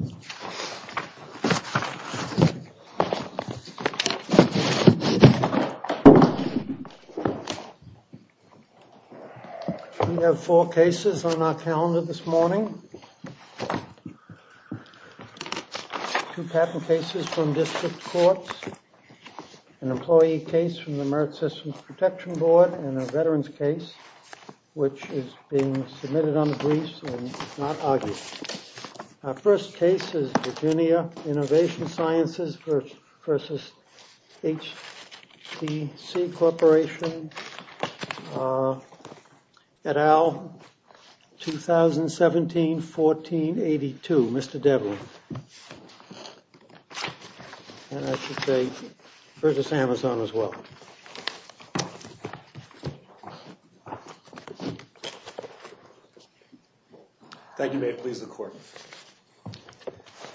We have four cases on our calendar this morning, two patent cases from district courts, an employee case from the Merit Systems Protection Board and a veterans case which is being submitted on the briefs and not argued. Our first case is Virginia Innovation Sciences v. HTC Corporation et al. 2017-14-82, Mr. Devlin. And I should say, Curtis Amazon as well. Thank you, Mayor. Please, the court.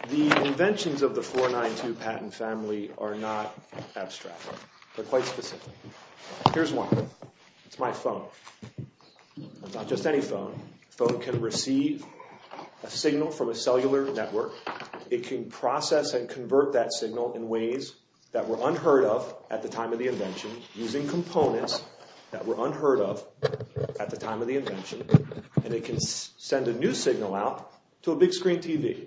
The inventions of the 492 patent family are not abstract. They're quite specific. Here's one. It's my phone. It's not just any phone. A phone can receive a signal from a cellular network. It can process and convert that signal in ways that were unheard of at the time of the invention using components that were unheard of at the time of the invention. And it can send a new signal out to a big screen TV.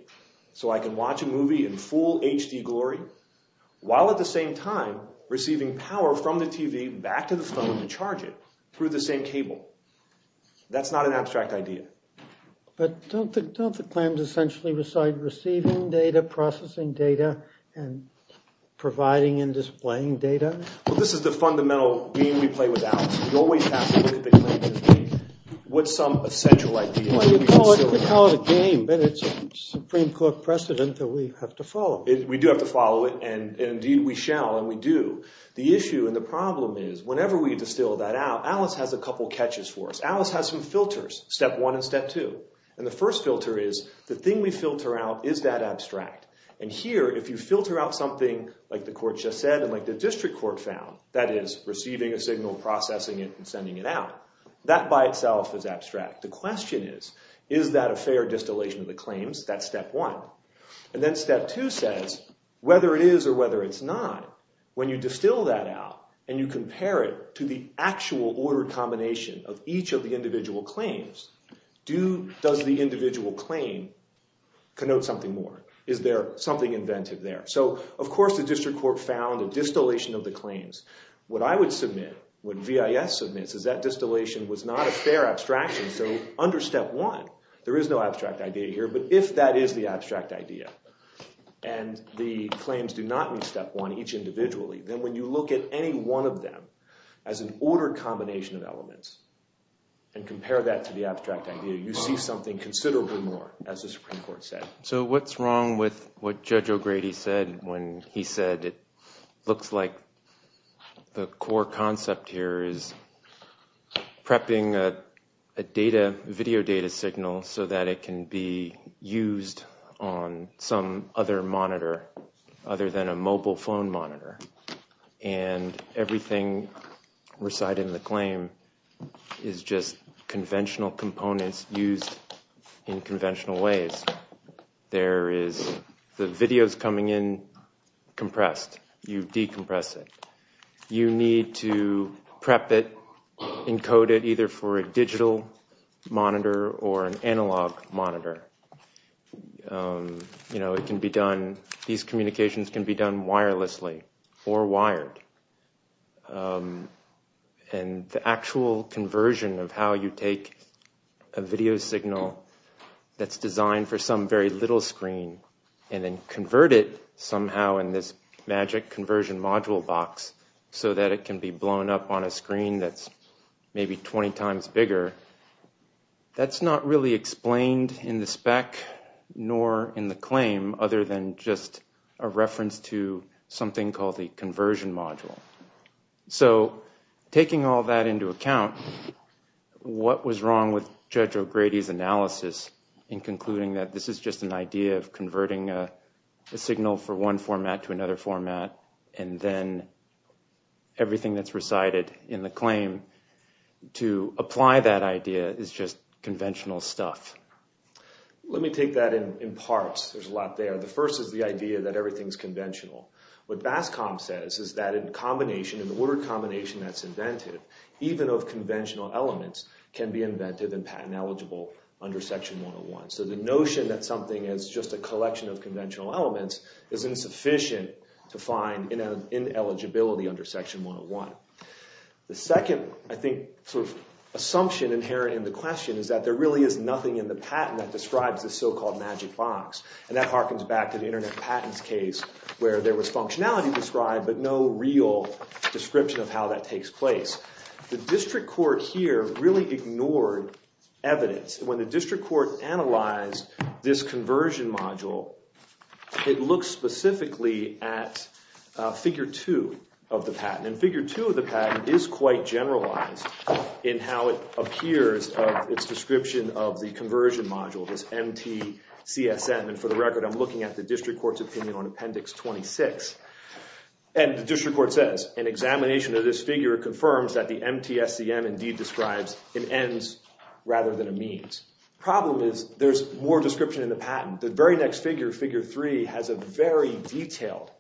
So I can watch a movie in full HD glory while at the same time receiving power from the TV back to the phone to charge it through the same cable. That's not an abstract idea. But don't the claims essentially reside receiving data, processing data, and providing and displaying data? Well, this is the fundamental game we play with Alice. We always have to look at the claims as being what's some essential idea. Well, you could call it a game, but it's a Supreme Court precedent that we have to follow. We do have to follow it, and indeed we shall and we do. The issue and the problem is whenever we distill that out, Alice has a couple of catches for us. Alice has some filters, step one and step two. And the first filter is the thing we filter out, is that abstract? And here, if you filter out something like the court just said and like the district court found, that is receiving a signal, processing it, and sending it out, that by itself is abstract. The question is, is that a fair distillation of the claims? That's step one. And then step two says, whether it is or whether it's not, when you distill that out and you compare it to the actual ordered combination of each of the individual claims, does the individual claim connote something more? Is there something inventive there? So of course the district court found a distillation of the claims. What I would submit, what VIS submits, is that distillation was not a fair abstraction. So under step one, there is no abstract idea here, but if that is the abstract idea and the claims do not meet step one each individually, then when you look at any one of them as an ordered combination of elements and compare that to the abstract idea, you see something considerably more, as the Supreme Court said. So what's wrong with what Judge O'Grady said when he said it looks like the core concept here is prepping a video data signal so that it can be used on some other monitor other than a mobile phone monitor. And everything recited in the claim is just conventional components used in conventional ways. There is the videos coming in compressed. You decompress it. You need to prep it, encode it, either for a digital monitor or an analog monitor. These communications can be done wirelessly or wired. And the actual conversion of how you take a video signal that's designed for some very little screen and then convert it somehow in this magic conversion module box so that it can be blown up on a screen that's maybe 20 times bigger, that's not really explained in the spec nor in the claim other than just a reference to something called the conversion module. So taking all that into account, what was wrong with Judge O'Grady's analysis in concluding that this is just an idea of converting a signal for one format to another format and then everything that's recited in the claim to apply that idea is just conventional stuff? Let me take that in parts. There's a lot there. The first is the idea that everything's conventional. What BASCOM says is that in the word combination that's invented, even of conventional elements can be invented and patent eligible under Section 101. So the notion that something is just a collection of conventional elements is insufficient to find ineligibility under Section 101. The second, I think, sort of assumption inherent in the question is that there really is nothing in the patent that describes this so-called magic box. And that harkens back to the Internet Patents case where there was functionality described but no real description of how that takes place. The district court here really ignored evidence. When the district court analyzed this conversion module, it looked specifically at Figure 2 of the patent. And Figure 2 of the patent is quite generalized in how it appears of its description of the conversion module, this MTCSM. And for the record, I'm looking at the district court's opinion on Appendix 26. And the district court says, an examination of this figure confirms that the MTCSM indeed describes an ends rather than a means. The problem is there's more description in the patent. The very next figure, Figure 3, has a very detailed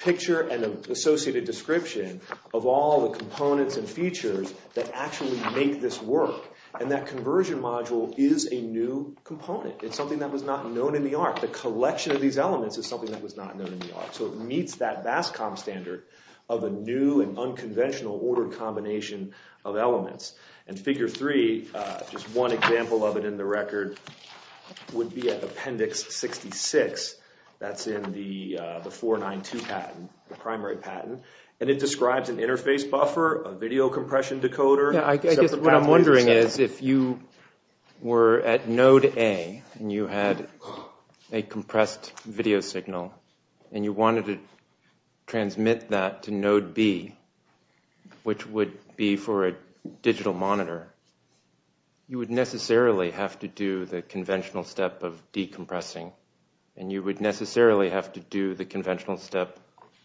picture and an associated description of all the components and features that actually make this work. And that conversion module is a new component. It's something that was not known in the art. The collection of these elements is something that was not known in the art. So it meets that BASCOM standard of a new and unconventional ordered combination of elements. And Figure 3, just one example of it in the record, would be at Appendix 66. That's in the 492 patent, the primary patent. And it describes an interface buffer, a video compression decoder. What I'm wondering is if you were at Node A and you had a compressed video signal and you wanted to transmit that to Node B, which would be for a digital monitor, you would necessarily have to do the conventional step of decompressing. And you would necessarily have to do the conventional step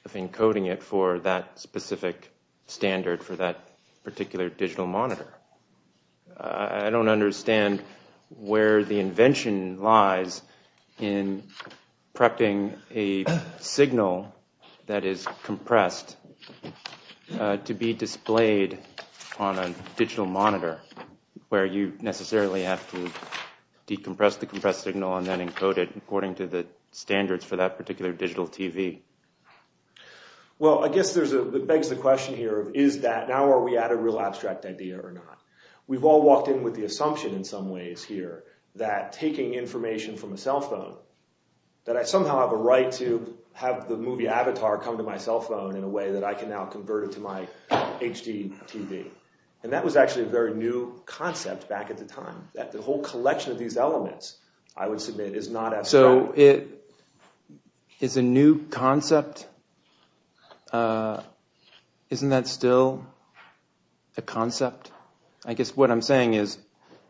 of encoding it for that specific standard for that particular digital monitor. I don't understand where the invention lies in prepping a signal that is compressed to be displayed on a digital monitor, where you necessarily have to decompress the compressed signal and then encode it according to the standards for that particular digital TV. Well, I guess what begs the question here is that now are we at a real abstract idea or not? We've all walked in with the assumption in some ways here that taking information from a cell phone, that I somehow have a right to have the movie Avatar come to my cell phone in a way that I can now convert it to my HD TV. And that was actually a very new concept back at the time. The whole collection of these elements, I would submit, is not abstract. So it is a new concept. Isn't that still a concept? I guess what I'm saying is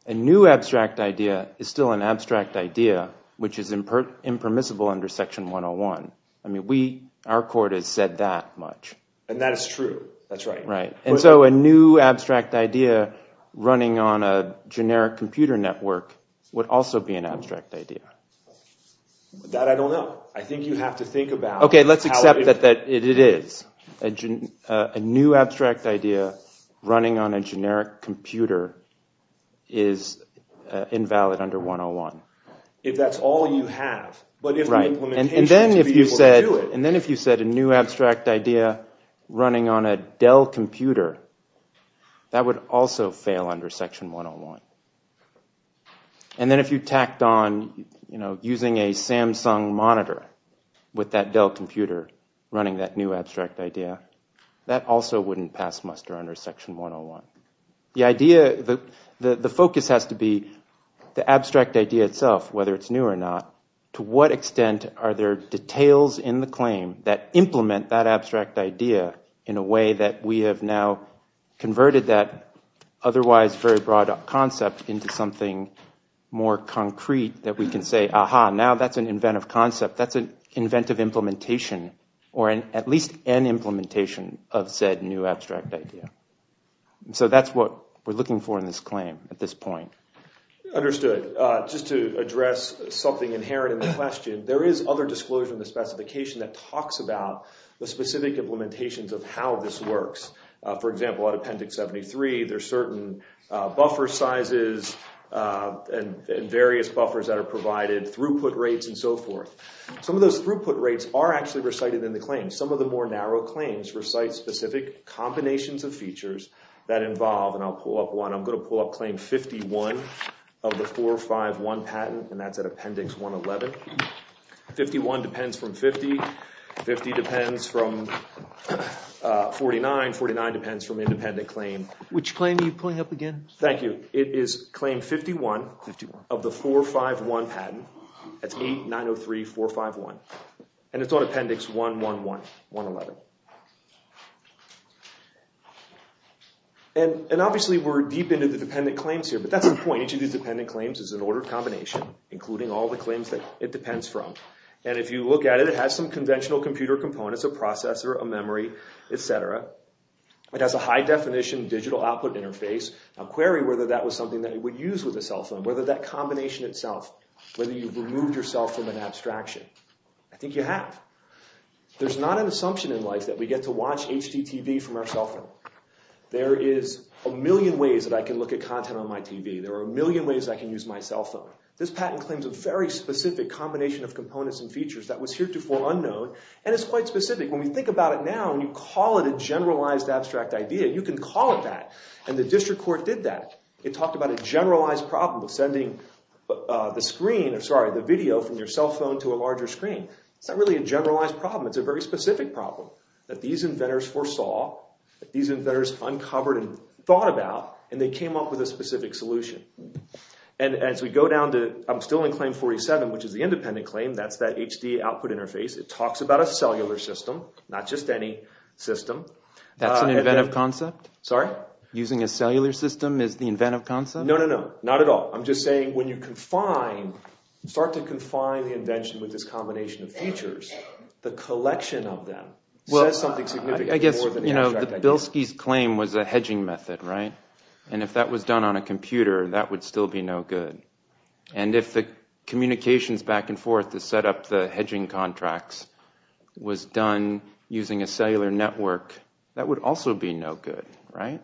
a new abstract idea is still an abstract idea, which is impermissible under Section 101. I mean, our court has said that much. And that is true. That's right. And so a new abstract idea running on a generic computer network would also be an abstract idea. That I don't know. I think you have to think about how it is. Okay, let's accept that it is. A new abstract idea running on a generic computer is invalid under 101. If that's all you have, but if the implementation is to be able to do it. A new abstract idea running on a Dell computer, that would also fail under Section 101. And then if you tacked on using a Samsung monitor with that Dell computer running that new abstract idea, that also wouldn't pass muster under Section 101. The focus has to be the abstract idea itself, whether it's new or not. To what extent are there details in the claim that implement that abstract idea in a way that we have now converted that otherwise very broad concept into something more concrete that we can say, aha, now that's an inventive concept, that's an inventive implementation, or at least an implementation of said new abstract idea. So that's what we're looking for in this claim at this point. Understood. Just to address something inherent in the question, there is other disclosure in the specification that talks about the specific implementations of how this works. For example, at Appendix 73, there's certain buffer sizes and various buffers that are provided, throughput rates, and so forth. Some of those throughput rates are actually recited in the claim. Some of the more narrow claims recite specific combinations of features that involve, and I'll pull up one. I'm going to pull up Claim 51 of the 451 patent, and that's at Appendix 111. 51 depends from 50. 50 depends from 49. 49 depends from independent claim. Which claim are you pulling up again? Thank you. It is Claim 51 of the 451 patent. That's 8903451. And it's on Appendix 111. And obviously, we're deep into the dependent claims here, but that's the point. Each of these dependent claims is an ordered combination, including all the claims that it depends from. And if you look at it, it has some conventional computer components, a processor, a memory, etc. It has a high-definition digital output interface. Now, query whether that was something that it would use with a cell phone, whether that combination itself, whether you've removed yourself from an abstraction. I think you have. There's not an assumption in life that we get to watch HGTV from our cell phone. There is a million ways that I can look at content on my TV. There are a million ways I can use my cell phone. This patent claims a very specific combination of components and features that was heretofore unknown, and it's quite specific. When we think about it now, when you call it a generalized abstract idea, you can call it that. And the district court did that. It talked about a generalized problem of sending the video from your cell phone to a larger screen. It's not really a generalized problem. It's a very specific problem that these inventors foresaw, that these inventors uncovered and thought about, and they came up with a specific solution. And as we go down to, I'm still in claim 47, which is the independent claim. That's that HD output interface. It talks about a cellular system, not just any system. That's an inventive concept? Sorry? Using a cellular system is the inventive concept? No, no, no. Not at all. I'm just saying when you confine, start to confine the invention with this combination of features, the collection of them says something significant more than the abstract idea. Well, I guess, you know, the Bilski's claim was a hedging method, right? And if that was done on a computer, that would still be no good. And if the communications back and forth to set up the hedging contracts was done using a cellular network, that would also be no good, right?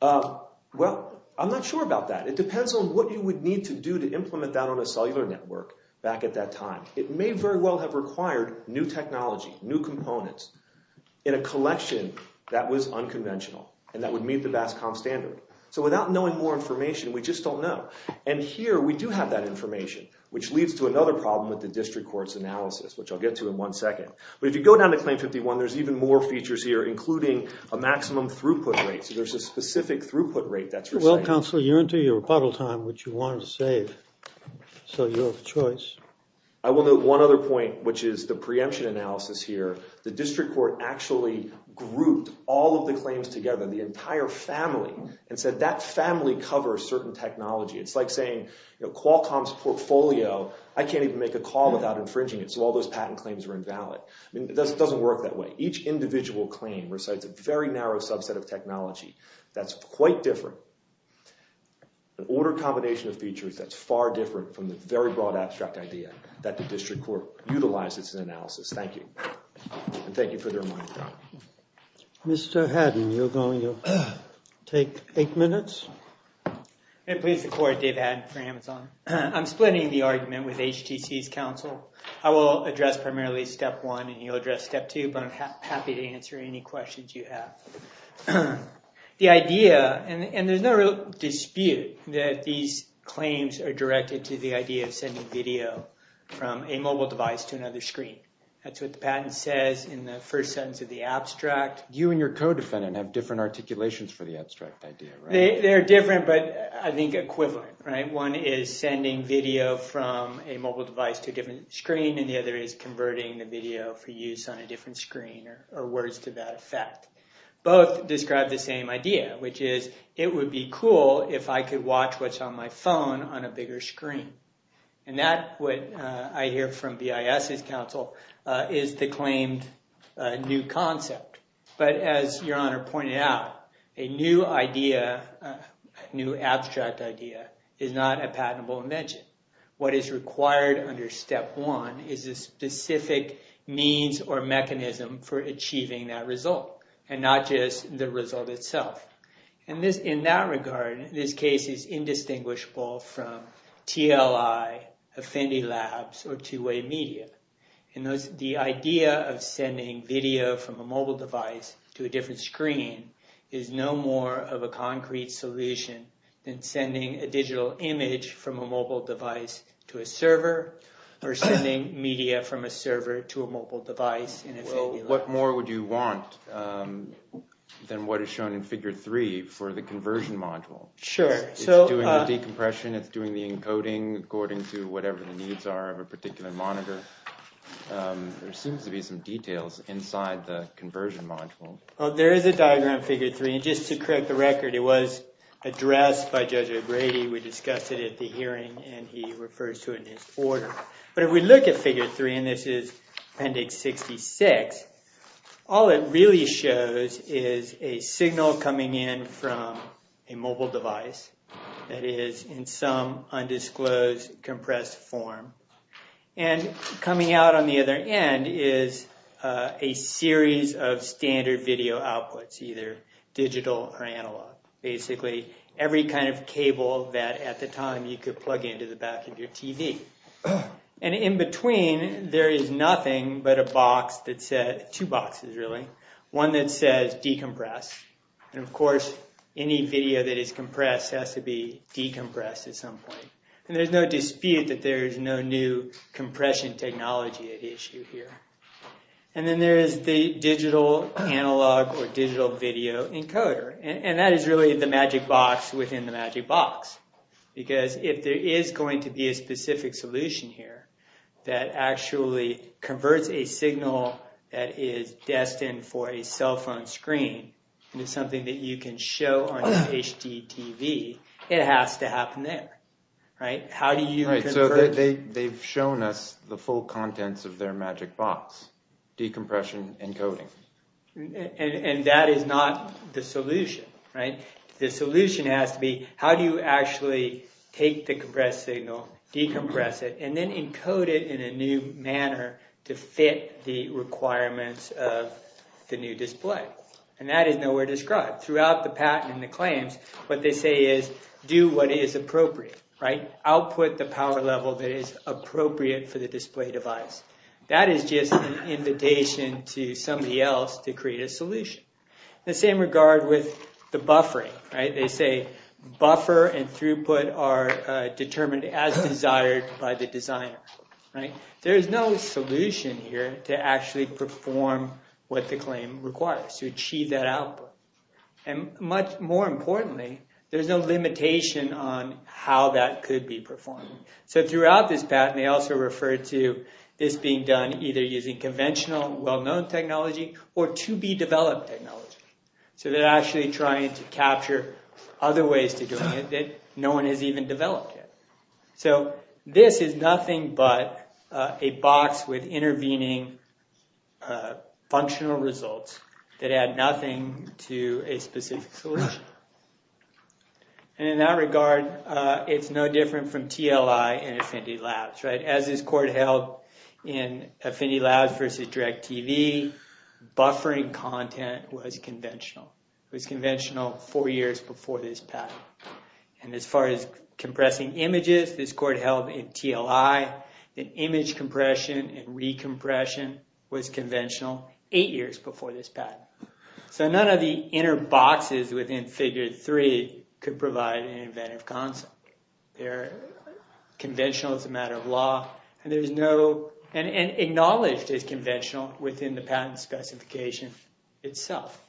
Well, I'm not sure about that. It depends on what you would need to do to implement that on a cellular network back at that time. It may very well have required new technology, new components in a collection that was unconventional and that would meet the BASCOM standard. So without knowing more information, we just don't know. And here we do have that information, which leads to another problem with the district court's analysis, which I'll get to in one second. But if you go down to claim 51, there's even more features here, including a maximum throughput rate. So there's a specific throughput rate that's received. Counsel, you're into your rebuttal time, which you wanted to save, so you have a choice. I will note one other point, which is the preemption analysis here. The district court actually grouped all of the claims together, the entire family, and said that family covers certain technology. It's like saying Qualcomm's portfolio, I can't even make a call without infringing it, so all those patent claims are invalid. I mean, it doesn't work that way. Each individual claim recites a very narrow subset of technology. That's quite different. An order combination of features that's far different from the very broad abstract idea that the district court utilizes in analysis. Thank you. And thank you for the reminder, John. Mr. Haddon, you're going to take eight minutes. May it please the court, Dave Haddon for Amazon. I'm splitting the argument with HTC's counsel. I will address primarily step one, and you'll address step two, but I'm happy to answer any questions you have. The idea, and there's no dispute that these claims are directed to the idea of sending video from a mobile device to another screen. That's what the patent says in the first sentence of the abstract. You and your co-defendant have different articulations for the abstract idea, right? They're different, but I think equivalent. One is sending video from a mobile device to a different screen, and the other is converting the video for use on a different screen or words to that effect. Both describe the same idea, which is it would be cool if I could watch what's on my phone on a bigger screen. And that, what I hear from BIS's counsel, is the claimed new concept. But as Your Honor pointed out, a new idea, a new abstract idea, is not a patentable invention. What is required under step one is a specific means or mechanism for achieving that result, and not just the result itself. In that regard, this case is indistinguishable from TLI, Affinity Labs, or two-way media. The idea of sending video from a mobile device to a different screen is no more of a concrete solution than sending a digital image from a mobile device to a server, or sending media from a server to a mobile device in Affinity Labs. Well, what more would you want than what is shown in figure three for the conversion module? Sure. It's doing the decompression, it's doing the encoding according to whatever the needs are of a particular monitor. There seems to be some details inside the conversion module. There is a diagram in figure three, and just to correct the record, it was addressed by Judge O'Grady. We discussed it at the hearing, and he refers to it in his order. But if we look at figure three, and this is Appendix 66, all it really shows is a signal coming in from a mobile device, that is, in some undisclosed, compressed form. And coming out on the other end is a series of standard video outputs, either digital or analog. Basically, every kind of cable that, at the time, you could plug into the back of your TV. And in between, there is nothing but a box that says, two boxes really, one that says decompress. And of course, any video that is compressed has to be decompressed at some point. And there's no dispute that there is no new compression technology at issue here. And then there is the digital, analog, or digital video encoder. And that is really the magic box within the magic box. Because if there is going to be a specific solution here that actually converts a signal that is destined for a cell phone screen into something that you can show on an HDTV, it has to happen there, right? How do you convert... Right, so they've shown us the full contents of their magic box, decompression encoding. And that is not the solution, right? The solution has to be, how do you actually take the compressed signal, decompress it, and then encode it in a new manner to fit the requirements of the new display? And that is nowhere described. Throughout the patent and the claims, what they say is, do what is appropriate, right? Output the power level that is appropriate for the display device. That is just an invitation to somebody else to create a solution. The same regard with the buffering, right? They say buffer and throughput are determined as desired by the designer, right? There is no solution here to actually perform what the claim requires, to achieve that output. And much more importantly, there is no limitation on how that could be performed. So throughout this patent, they also refer to this being done either using conventional, well-known technology or to-be-developed technology. So they're actually trying to capture other ways to do it that no one has even developed yet. So this is nothing but a box with intervening functional results that add nothing to a specific solution. And in that regard, it's no different from TLI and Affinity Labs, right? As this court held in Affinity Labs versus DirecTV, buffering content was conventional. It was conventional four years before this patent. And as far as compressing images, this court held in TLI, that image compression and recompression was conventional eight years before this patent. So none of the inner boxes within Figure 3 could provide an inventive concept. They're conventional as a matter of law. And there's no—and acknowledged as conventional within the patent specification itself.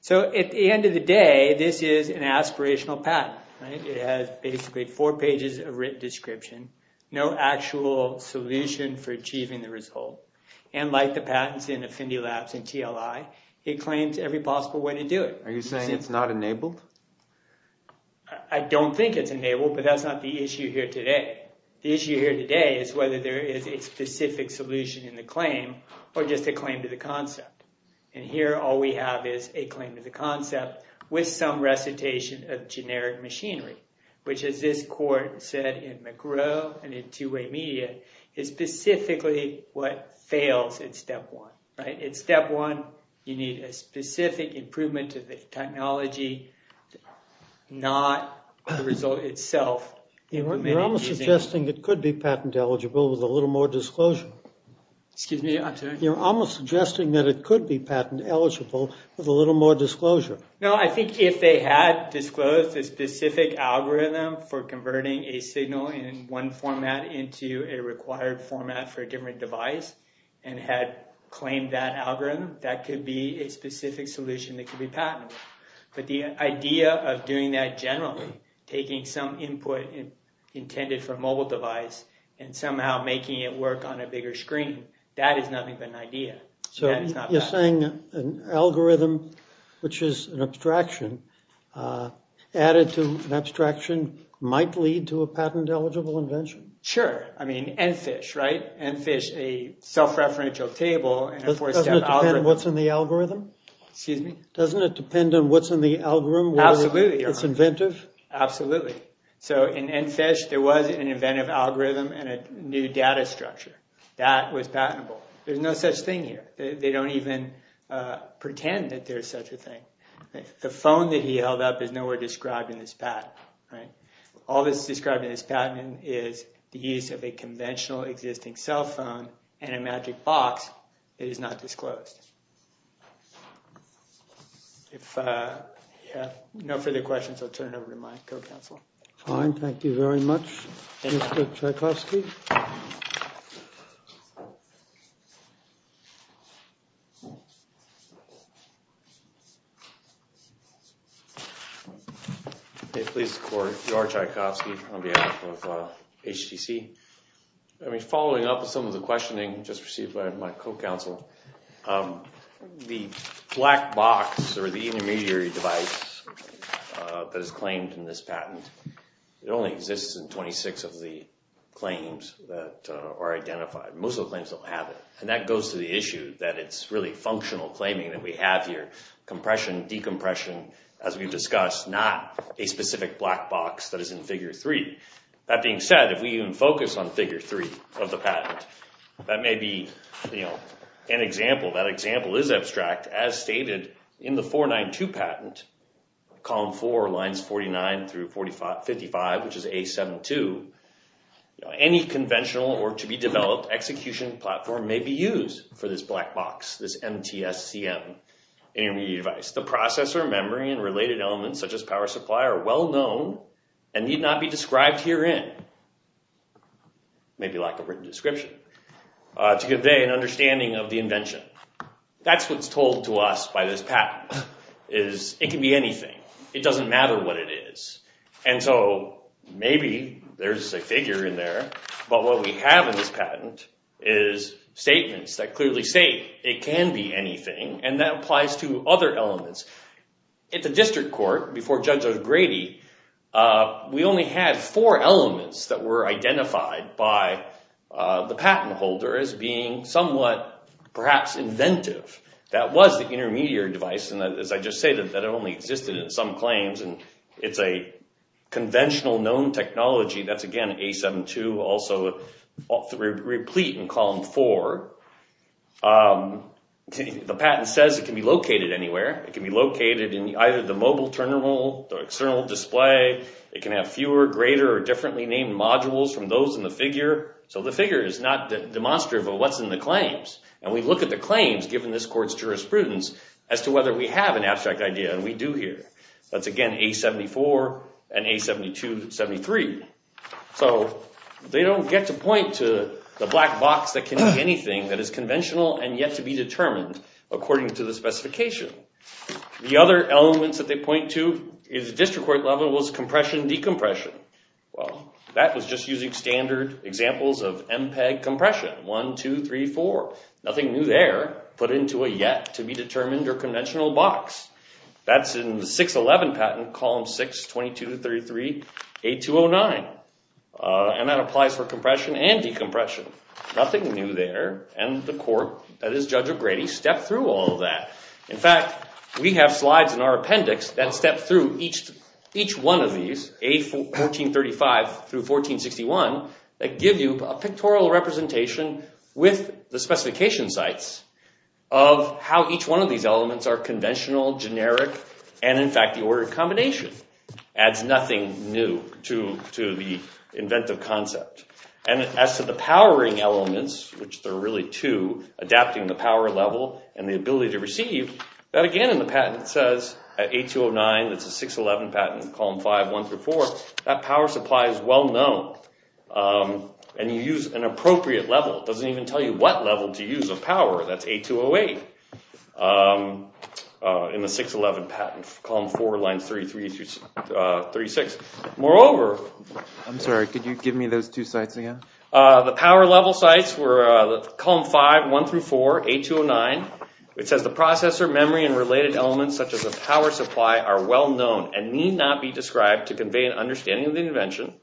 So at the end of the day, this is an aspirational patent, right? It has basically four pages of written description, no actual solution for achieving the result. And like the patents in Affinity Labs and TLI, it claims every possible way to do it. Are you saying it's not enabled? I don't think it's enabled, but that's not the issue here today. The issue here today is whether there is a specific solution in the claim or just a claim to the concept. And here, all we have is a claim to the concept with some recitation of generic machinery, which, as this court said in McGraw and in Two-Way Media, is specifically what fails at step one, right? At step one, you need a specific improvement to the technology, not the result itself. You're almost suggesting it could be patent eligible with a little more disclosure. Excuse me? I'm sorry? You're almost suggesting that it could be patent eligible with a little more disclosure. No, I think if they had disclosed a specific algorithm for converting a signal in one format into a required format for a different device and had claimed that algorithm, that could be a specific solution that could be patented. But the idea of doing that generally, taking some input intended for a mobile device and somehow making it work on a bigger screen, that is nothing but an idea. So you're saying an algorithm, which is an abstraction, added to an abstraction, might lead to a patent eligible invention? Sure. I mean, EnFish, right? EnFish, a self-referential table and a four-step algorithm. Doesn't it depend on what's in the algorithm? Excuse me? Doesn't it depend on what's in the algorithm? Absolutely. It's inventive? Absolutely. So in EnFish, there was an inventive algorithm and a new data structure. That was patentable. There's no such thing here. They don't even pretend that there's such a thing. The phone that he held up is nowhere described in this patent, right? All that's described in this patent is the use of a conventional existing cell phone and a magic box. It is not disclosed. If you have no further questions, I'll turn it over to my co-counsel. Fine. Thank you very much, Mr. Tchaikovsky. Thank you. Please support George Tchaikovsky on behalf of HTC. Following up with some of the questioning just received by my co-counsel, the black box or the intermediary device that is claimed in this patent, it only exists in 26 of the claims that are identified. Most of the claims don't have it. And that goes to the issue that it's really functional claiming that we have here. Compression, decompression, as we've discussed, not a specific black box that is in Figure 3. That being said, if we even focus on Figure 3 of the patent, that may be an example. That example is abstract. As stated in the 492 patent, Column 4, Lines 49 through 55, which is A72, any conventional or to-be-developed execution platform may be used for this black box, this MTSCM intermediary device. The processor, memory, and related elements, such as power supply, are well-known and need not be described herein, maybe like a written description, to convey an understanding of the invention. That's what's told to us by this patent, is it can be anything. It doesn't matter what it is. And so maybe there's a figure in there. But what we have in this patent is statements that clearly state it can be anything, and that applies to other elements. At the district court, before Judge O'Grady, we only had four elements that were identified by the patent holder as being somewhat, perhaps, inventive. That was the intermediary device, and as I just stated, that only existed in some claims, and it's a conventional known technology. That's, again, A72, also replete in Column 4. The patent says it can be located anywhere. It can be located in either the mobile terminal, the external display. It can have fewer, greater, or differently named modules from those in the figure. So the figure is not demonstrative of what's in the claims. And we look at the claims, given this court's jurisprudence, as to whether we have an abstract idea, and we do here. That's, again, A74 and A72-73. So they don't get to point to the black box that can be anything that is conventional and yet to be determined according to the specification. The other elements that they point to at the district court level was compression-decompression. Well, that was just using standard examples of MPEG compression, 1, 2, 3, 4. Nothing new there, put into a yet to be determined or conventional box. That's in the 611 patent, Column 6, 22-33, A209. And that applies for compression and decompression. Nothing new there, and the court, that is Judge O'Grady, stepped through all of that. In fact, we have slides in our appendix that step through each one of these, A1435-1461, that give you a pictorial representation with the specification sites of how each one of these elements are conventional, generic, and, in fact, the order of combination. Adds nothing new to the inventive concept. And as to the powering elements, which there are really two, adapting the power level and the ability to receive, that again in the patent says, A209, that's a 611 patent, Column 5, 1-4, that power supply is well-known. And you use an appropriate level. It doesn't even tell you what level to use of power. That's A208 in the 611 patent, Column 4, Line 33-36. Moreover... I'm sorry. Could you give me those two sites again? The power level sites were Column 5, 1-4, A209. It says the processor, memory, and related elements such as a power supply are well-known and need not be described to convey an understanding of the invention.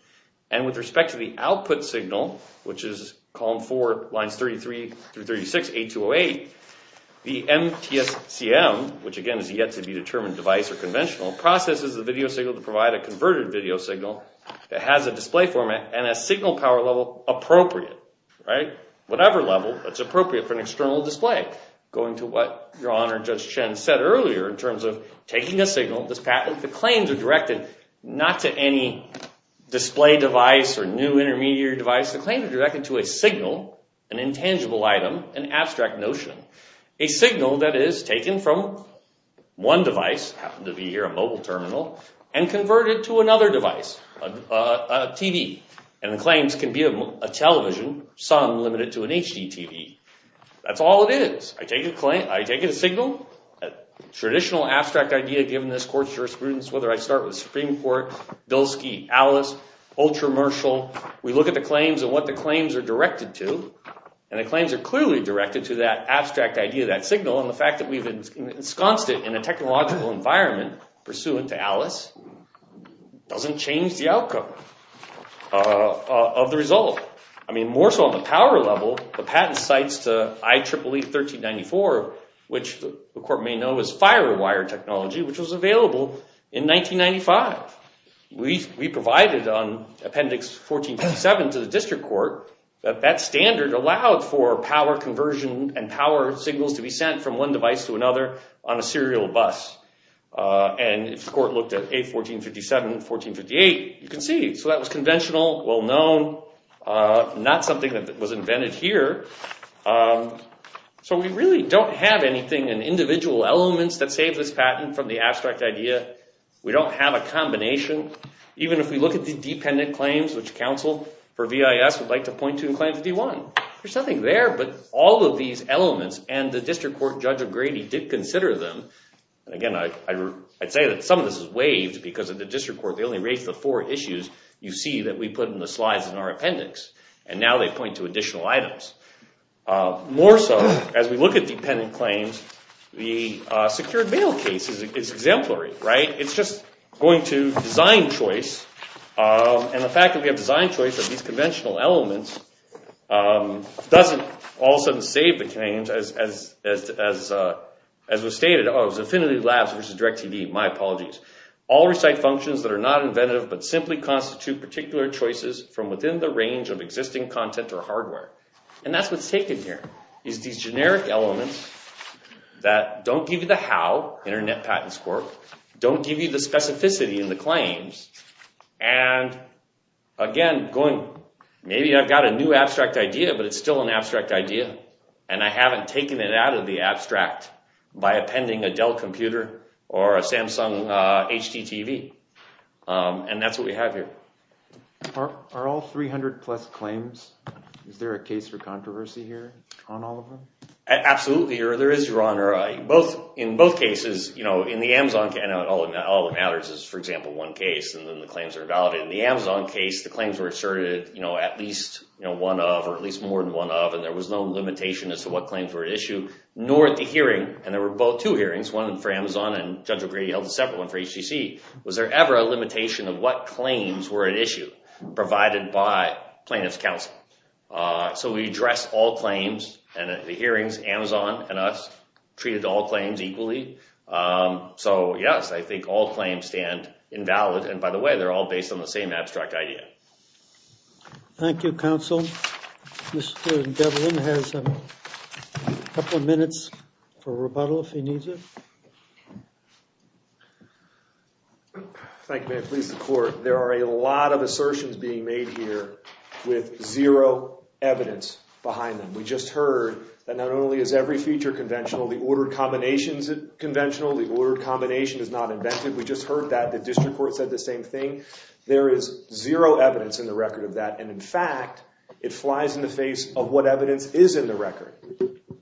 And with respect to the output signal, which is Column 4, Lines 33-36, A208, the MTSCM, which again is yet to be determined device or conventional, processes the video signal to provide a converted video signal that has a display format and a signal power level appropriate. Whatever level that's appropriate for an external display. Going to what Your Honor, Judge Chen said earlier in terms of taking a signal, this patent, the claims are directed not to any display device or new intermediate device. The claims are directed to a signal, an intangible item, an abstract notion. A signal that is taken from one device, happened to be here a mobile terminal, and converted to another device, a TV. And the claims can be a television, some limited to an HDTV. That's all it is. I take a signal, a traditional abstract idea given this court's jurisprudence, whether I start with Supreme Court, Bilski, Alice, Ultra-Marshall, we look at the claims and what the claims are directed to, and the claims are clearly directed to that abstract idea, that signal, and the fact that we've ensconced it in a technological environment pursuant to Alice doesn't change the outcome of the result. I mean, more so on the power level, the patent cites to IEEE 1394, which the court may know as Firewire technology, which was available in 1995. We provided on Appendix 14.7 to the District Court that that standard allowed for power conversion and power signals to be sent from one device to another on a serial bus. And if the court looked at A1457 and 1458, you can see. So that was conventional, well-known, not something that was invented here. So we really don't have anything in individual elements that save this patent from the abstract idea. We don't have a combination. Even if we look at the dependent claims, which counsel for VIS would like to point to in Claim 51, there's nothing there but all of these elements, and the District Court Judge of Grady did consider them. And again, I'd say that some of this is waived because of the District Court. They only raised the four issues you see that we put in the slides in our appendix, and now they point to additional items. More so, as we look at dependent claims, the secured bail case is exemplary, right? It's just going to design choice, and the fact that we have design choice of these conventional elements doesn't all of a sudden save the claims as was stated. Oh, it was Affinity Labs versus DirecTV. My apologies. All recite functions that are not inventive but simply constitute particular choices from within the range of existing content or hardware. And that's what's taken here, is these generic elements that don't give you the how, Internet Patents Court, don't give you the specificity in the claims. And again, maybe I've got a new abstract idea, but it's still an abstract idea, and I haven't taken it out of the abstract by appending a Dell computer or a Samsung HDTV. And that's what we have here. Are all 300-plus claims, is there a case for controversy here on all of them? Absolutely, there is, Your Honor. In both cases, in the Amazon case, and all that matters is, for example, one case, and then the claims are invalidated. In the Amazon case, the claims were asserted at least one of or at least more than one of, and there was no limitation as to what claims were at issue, nor at the hearing. And there were two hearings, one for Amazon and Judge O'Grady held a separate one for HTC. Was there ever a limitation of what claims were at issue provided by plaintiff's counsel? So we address all claims, and at the hearings, Amazon and us treated all claims equally. So, yes, I think all claims stand invalid. And by the way, they're all based on the same abstract idea. Thank you, counsel. Mr. Devlin has a couple of minutes for rebuttal if he needs it. There are a lot of assertions being made here with zero evidence behind them. We just heard that not only is every feature conventional, the ordered combination is conventional, the ordered combination is not invented. We just heard that. The district court said the same thing. There is zero evidence in the record of that. And, in fact, it flies in the face of what evidence is in the record.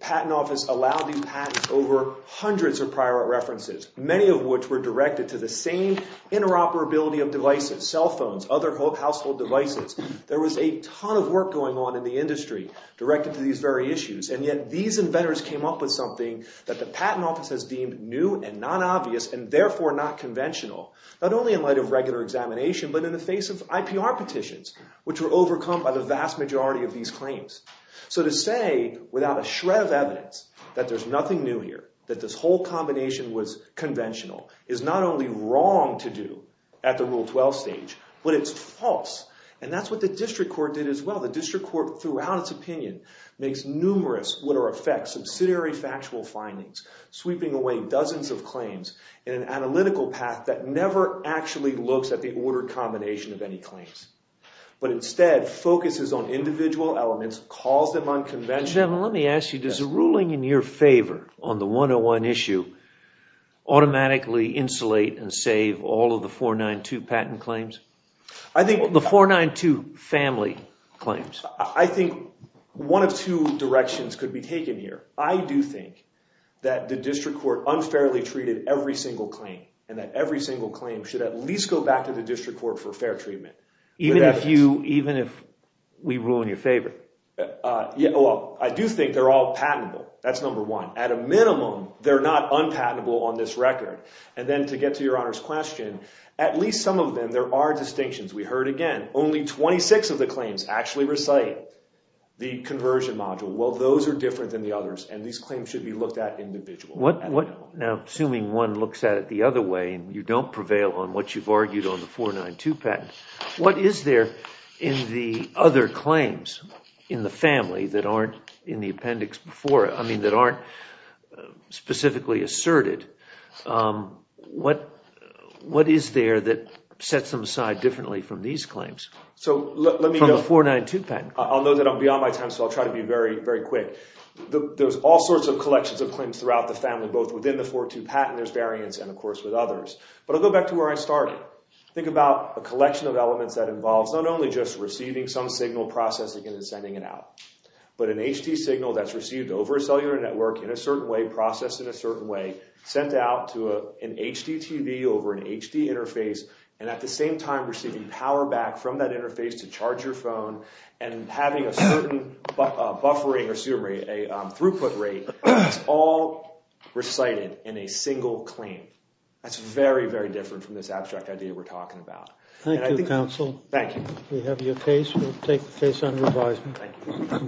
Patent Office allowed these patents over hundreds of prior references, many of which were directed to the same interoperability of devices, cell phones, other household devices. There was a ton of work going on in the industry directed to these very issues, and yet these inventors came up with something that the Patent Office has deemed new and non-obvious and therefore not conventional, not only in light of regular examination, but in the face of IPR petitions, which were overcome by the vast majority of these claims. So to say without a shred of evidence that there's nothing new here, that this whole combination was conventional, is not only wrong to do at the Rule 12 stage, but it's false. And that's what the district court did as well. The district court, throughout its opinion, makes numerous, what are effects, subsidiary factual findings, sweeping away dozens of claims in an analytical path that never actually looks at the ordered combination of any claims, but instead focuses on individual elements, calls them unconventional. Judge Devlin, let me ask you, does a ruling in your favor on the 101 issue automatically insulate and save all of the 492 patent claims? The 492 family claims. I think one of two directions could be taken here. I do think that the district court unfairly treated every single claim, and that every single claim should at least go back to the district court for fair treatment. Even if we ruin your favor? I do think they're all patentable. That's number one. At a minimum, they're not unpatentable on this record. And then to get to Your Honor's question, at least some of them, there are distinctions. We heard again, only 26 of the claims actually recite the conversion module. Well, those are different than the others, and these claims should be looked at individually. Now, assuming one looks at it the other way, and you don't prevail on what you've argued on the 492 patent, what is there in the other claims in the family that aren't in the appendix before it, I mean, that aren't specifically asserted, what is there that sets them aside differently from these claims, from the 492 patent? I'll note that I'm beyond my time, so I'll try to be very quick. There's all sorts of collections of claims throughout the family, both within the 492 patent, there's variants, and of course with others. But I'll go back to where I started. Think about a collection of elements that involves not only just receiving some signal, processing it, and sending it out, but an HD signal that's received over a cellular network in a certain way, processed in a certain way, sent out to an HDTV over an HD interface, and at the same time receiving power back from that interface to charge your phone, and having a certain buffering, or excuse me, a throughput rate, it's all recited in a single claim. That's very, very different from this abstract idea we're talking about. Thank you, counsel. Thank you. We have your case, we'll take the case under advisement. Thank you.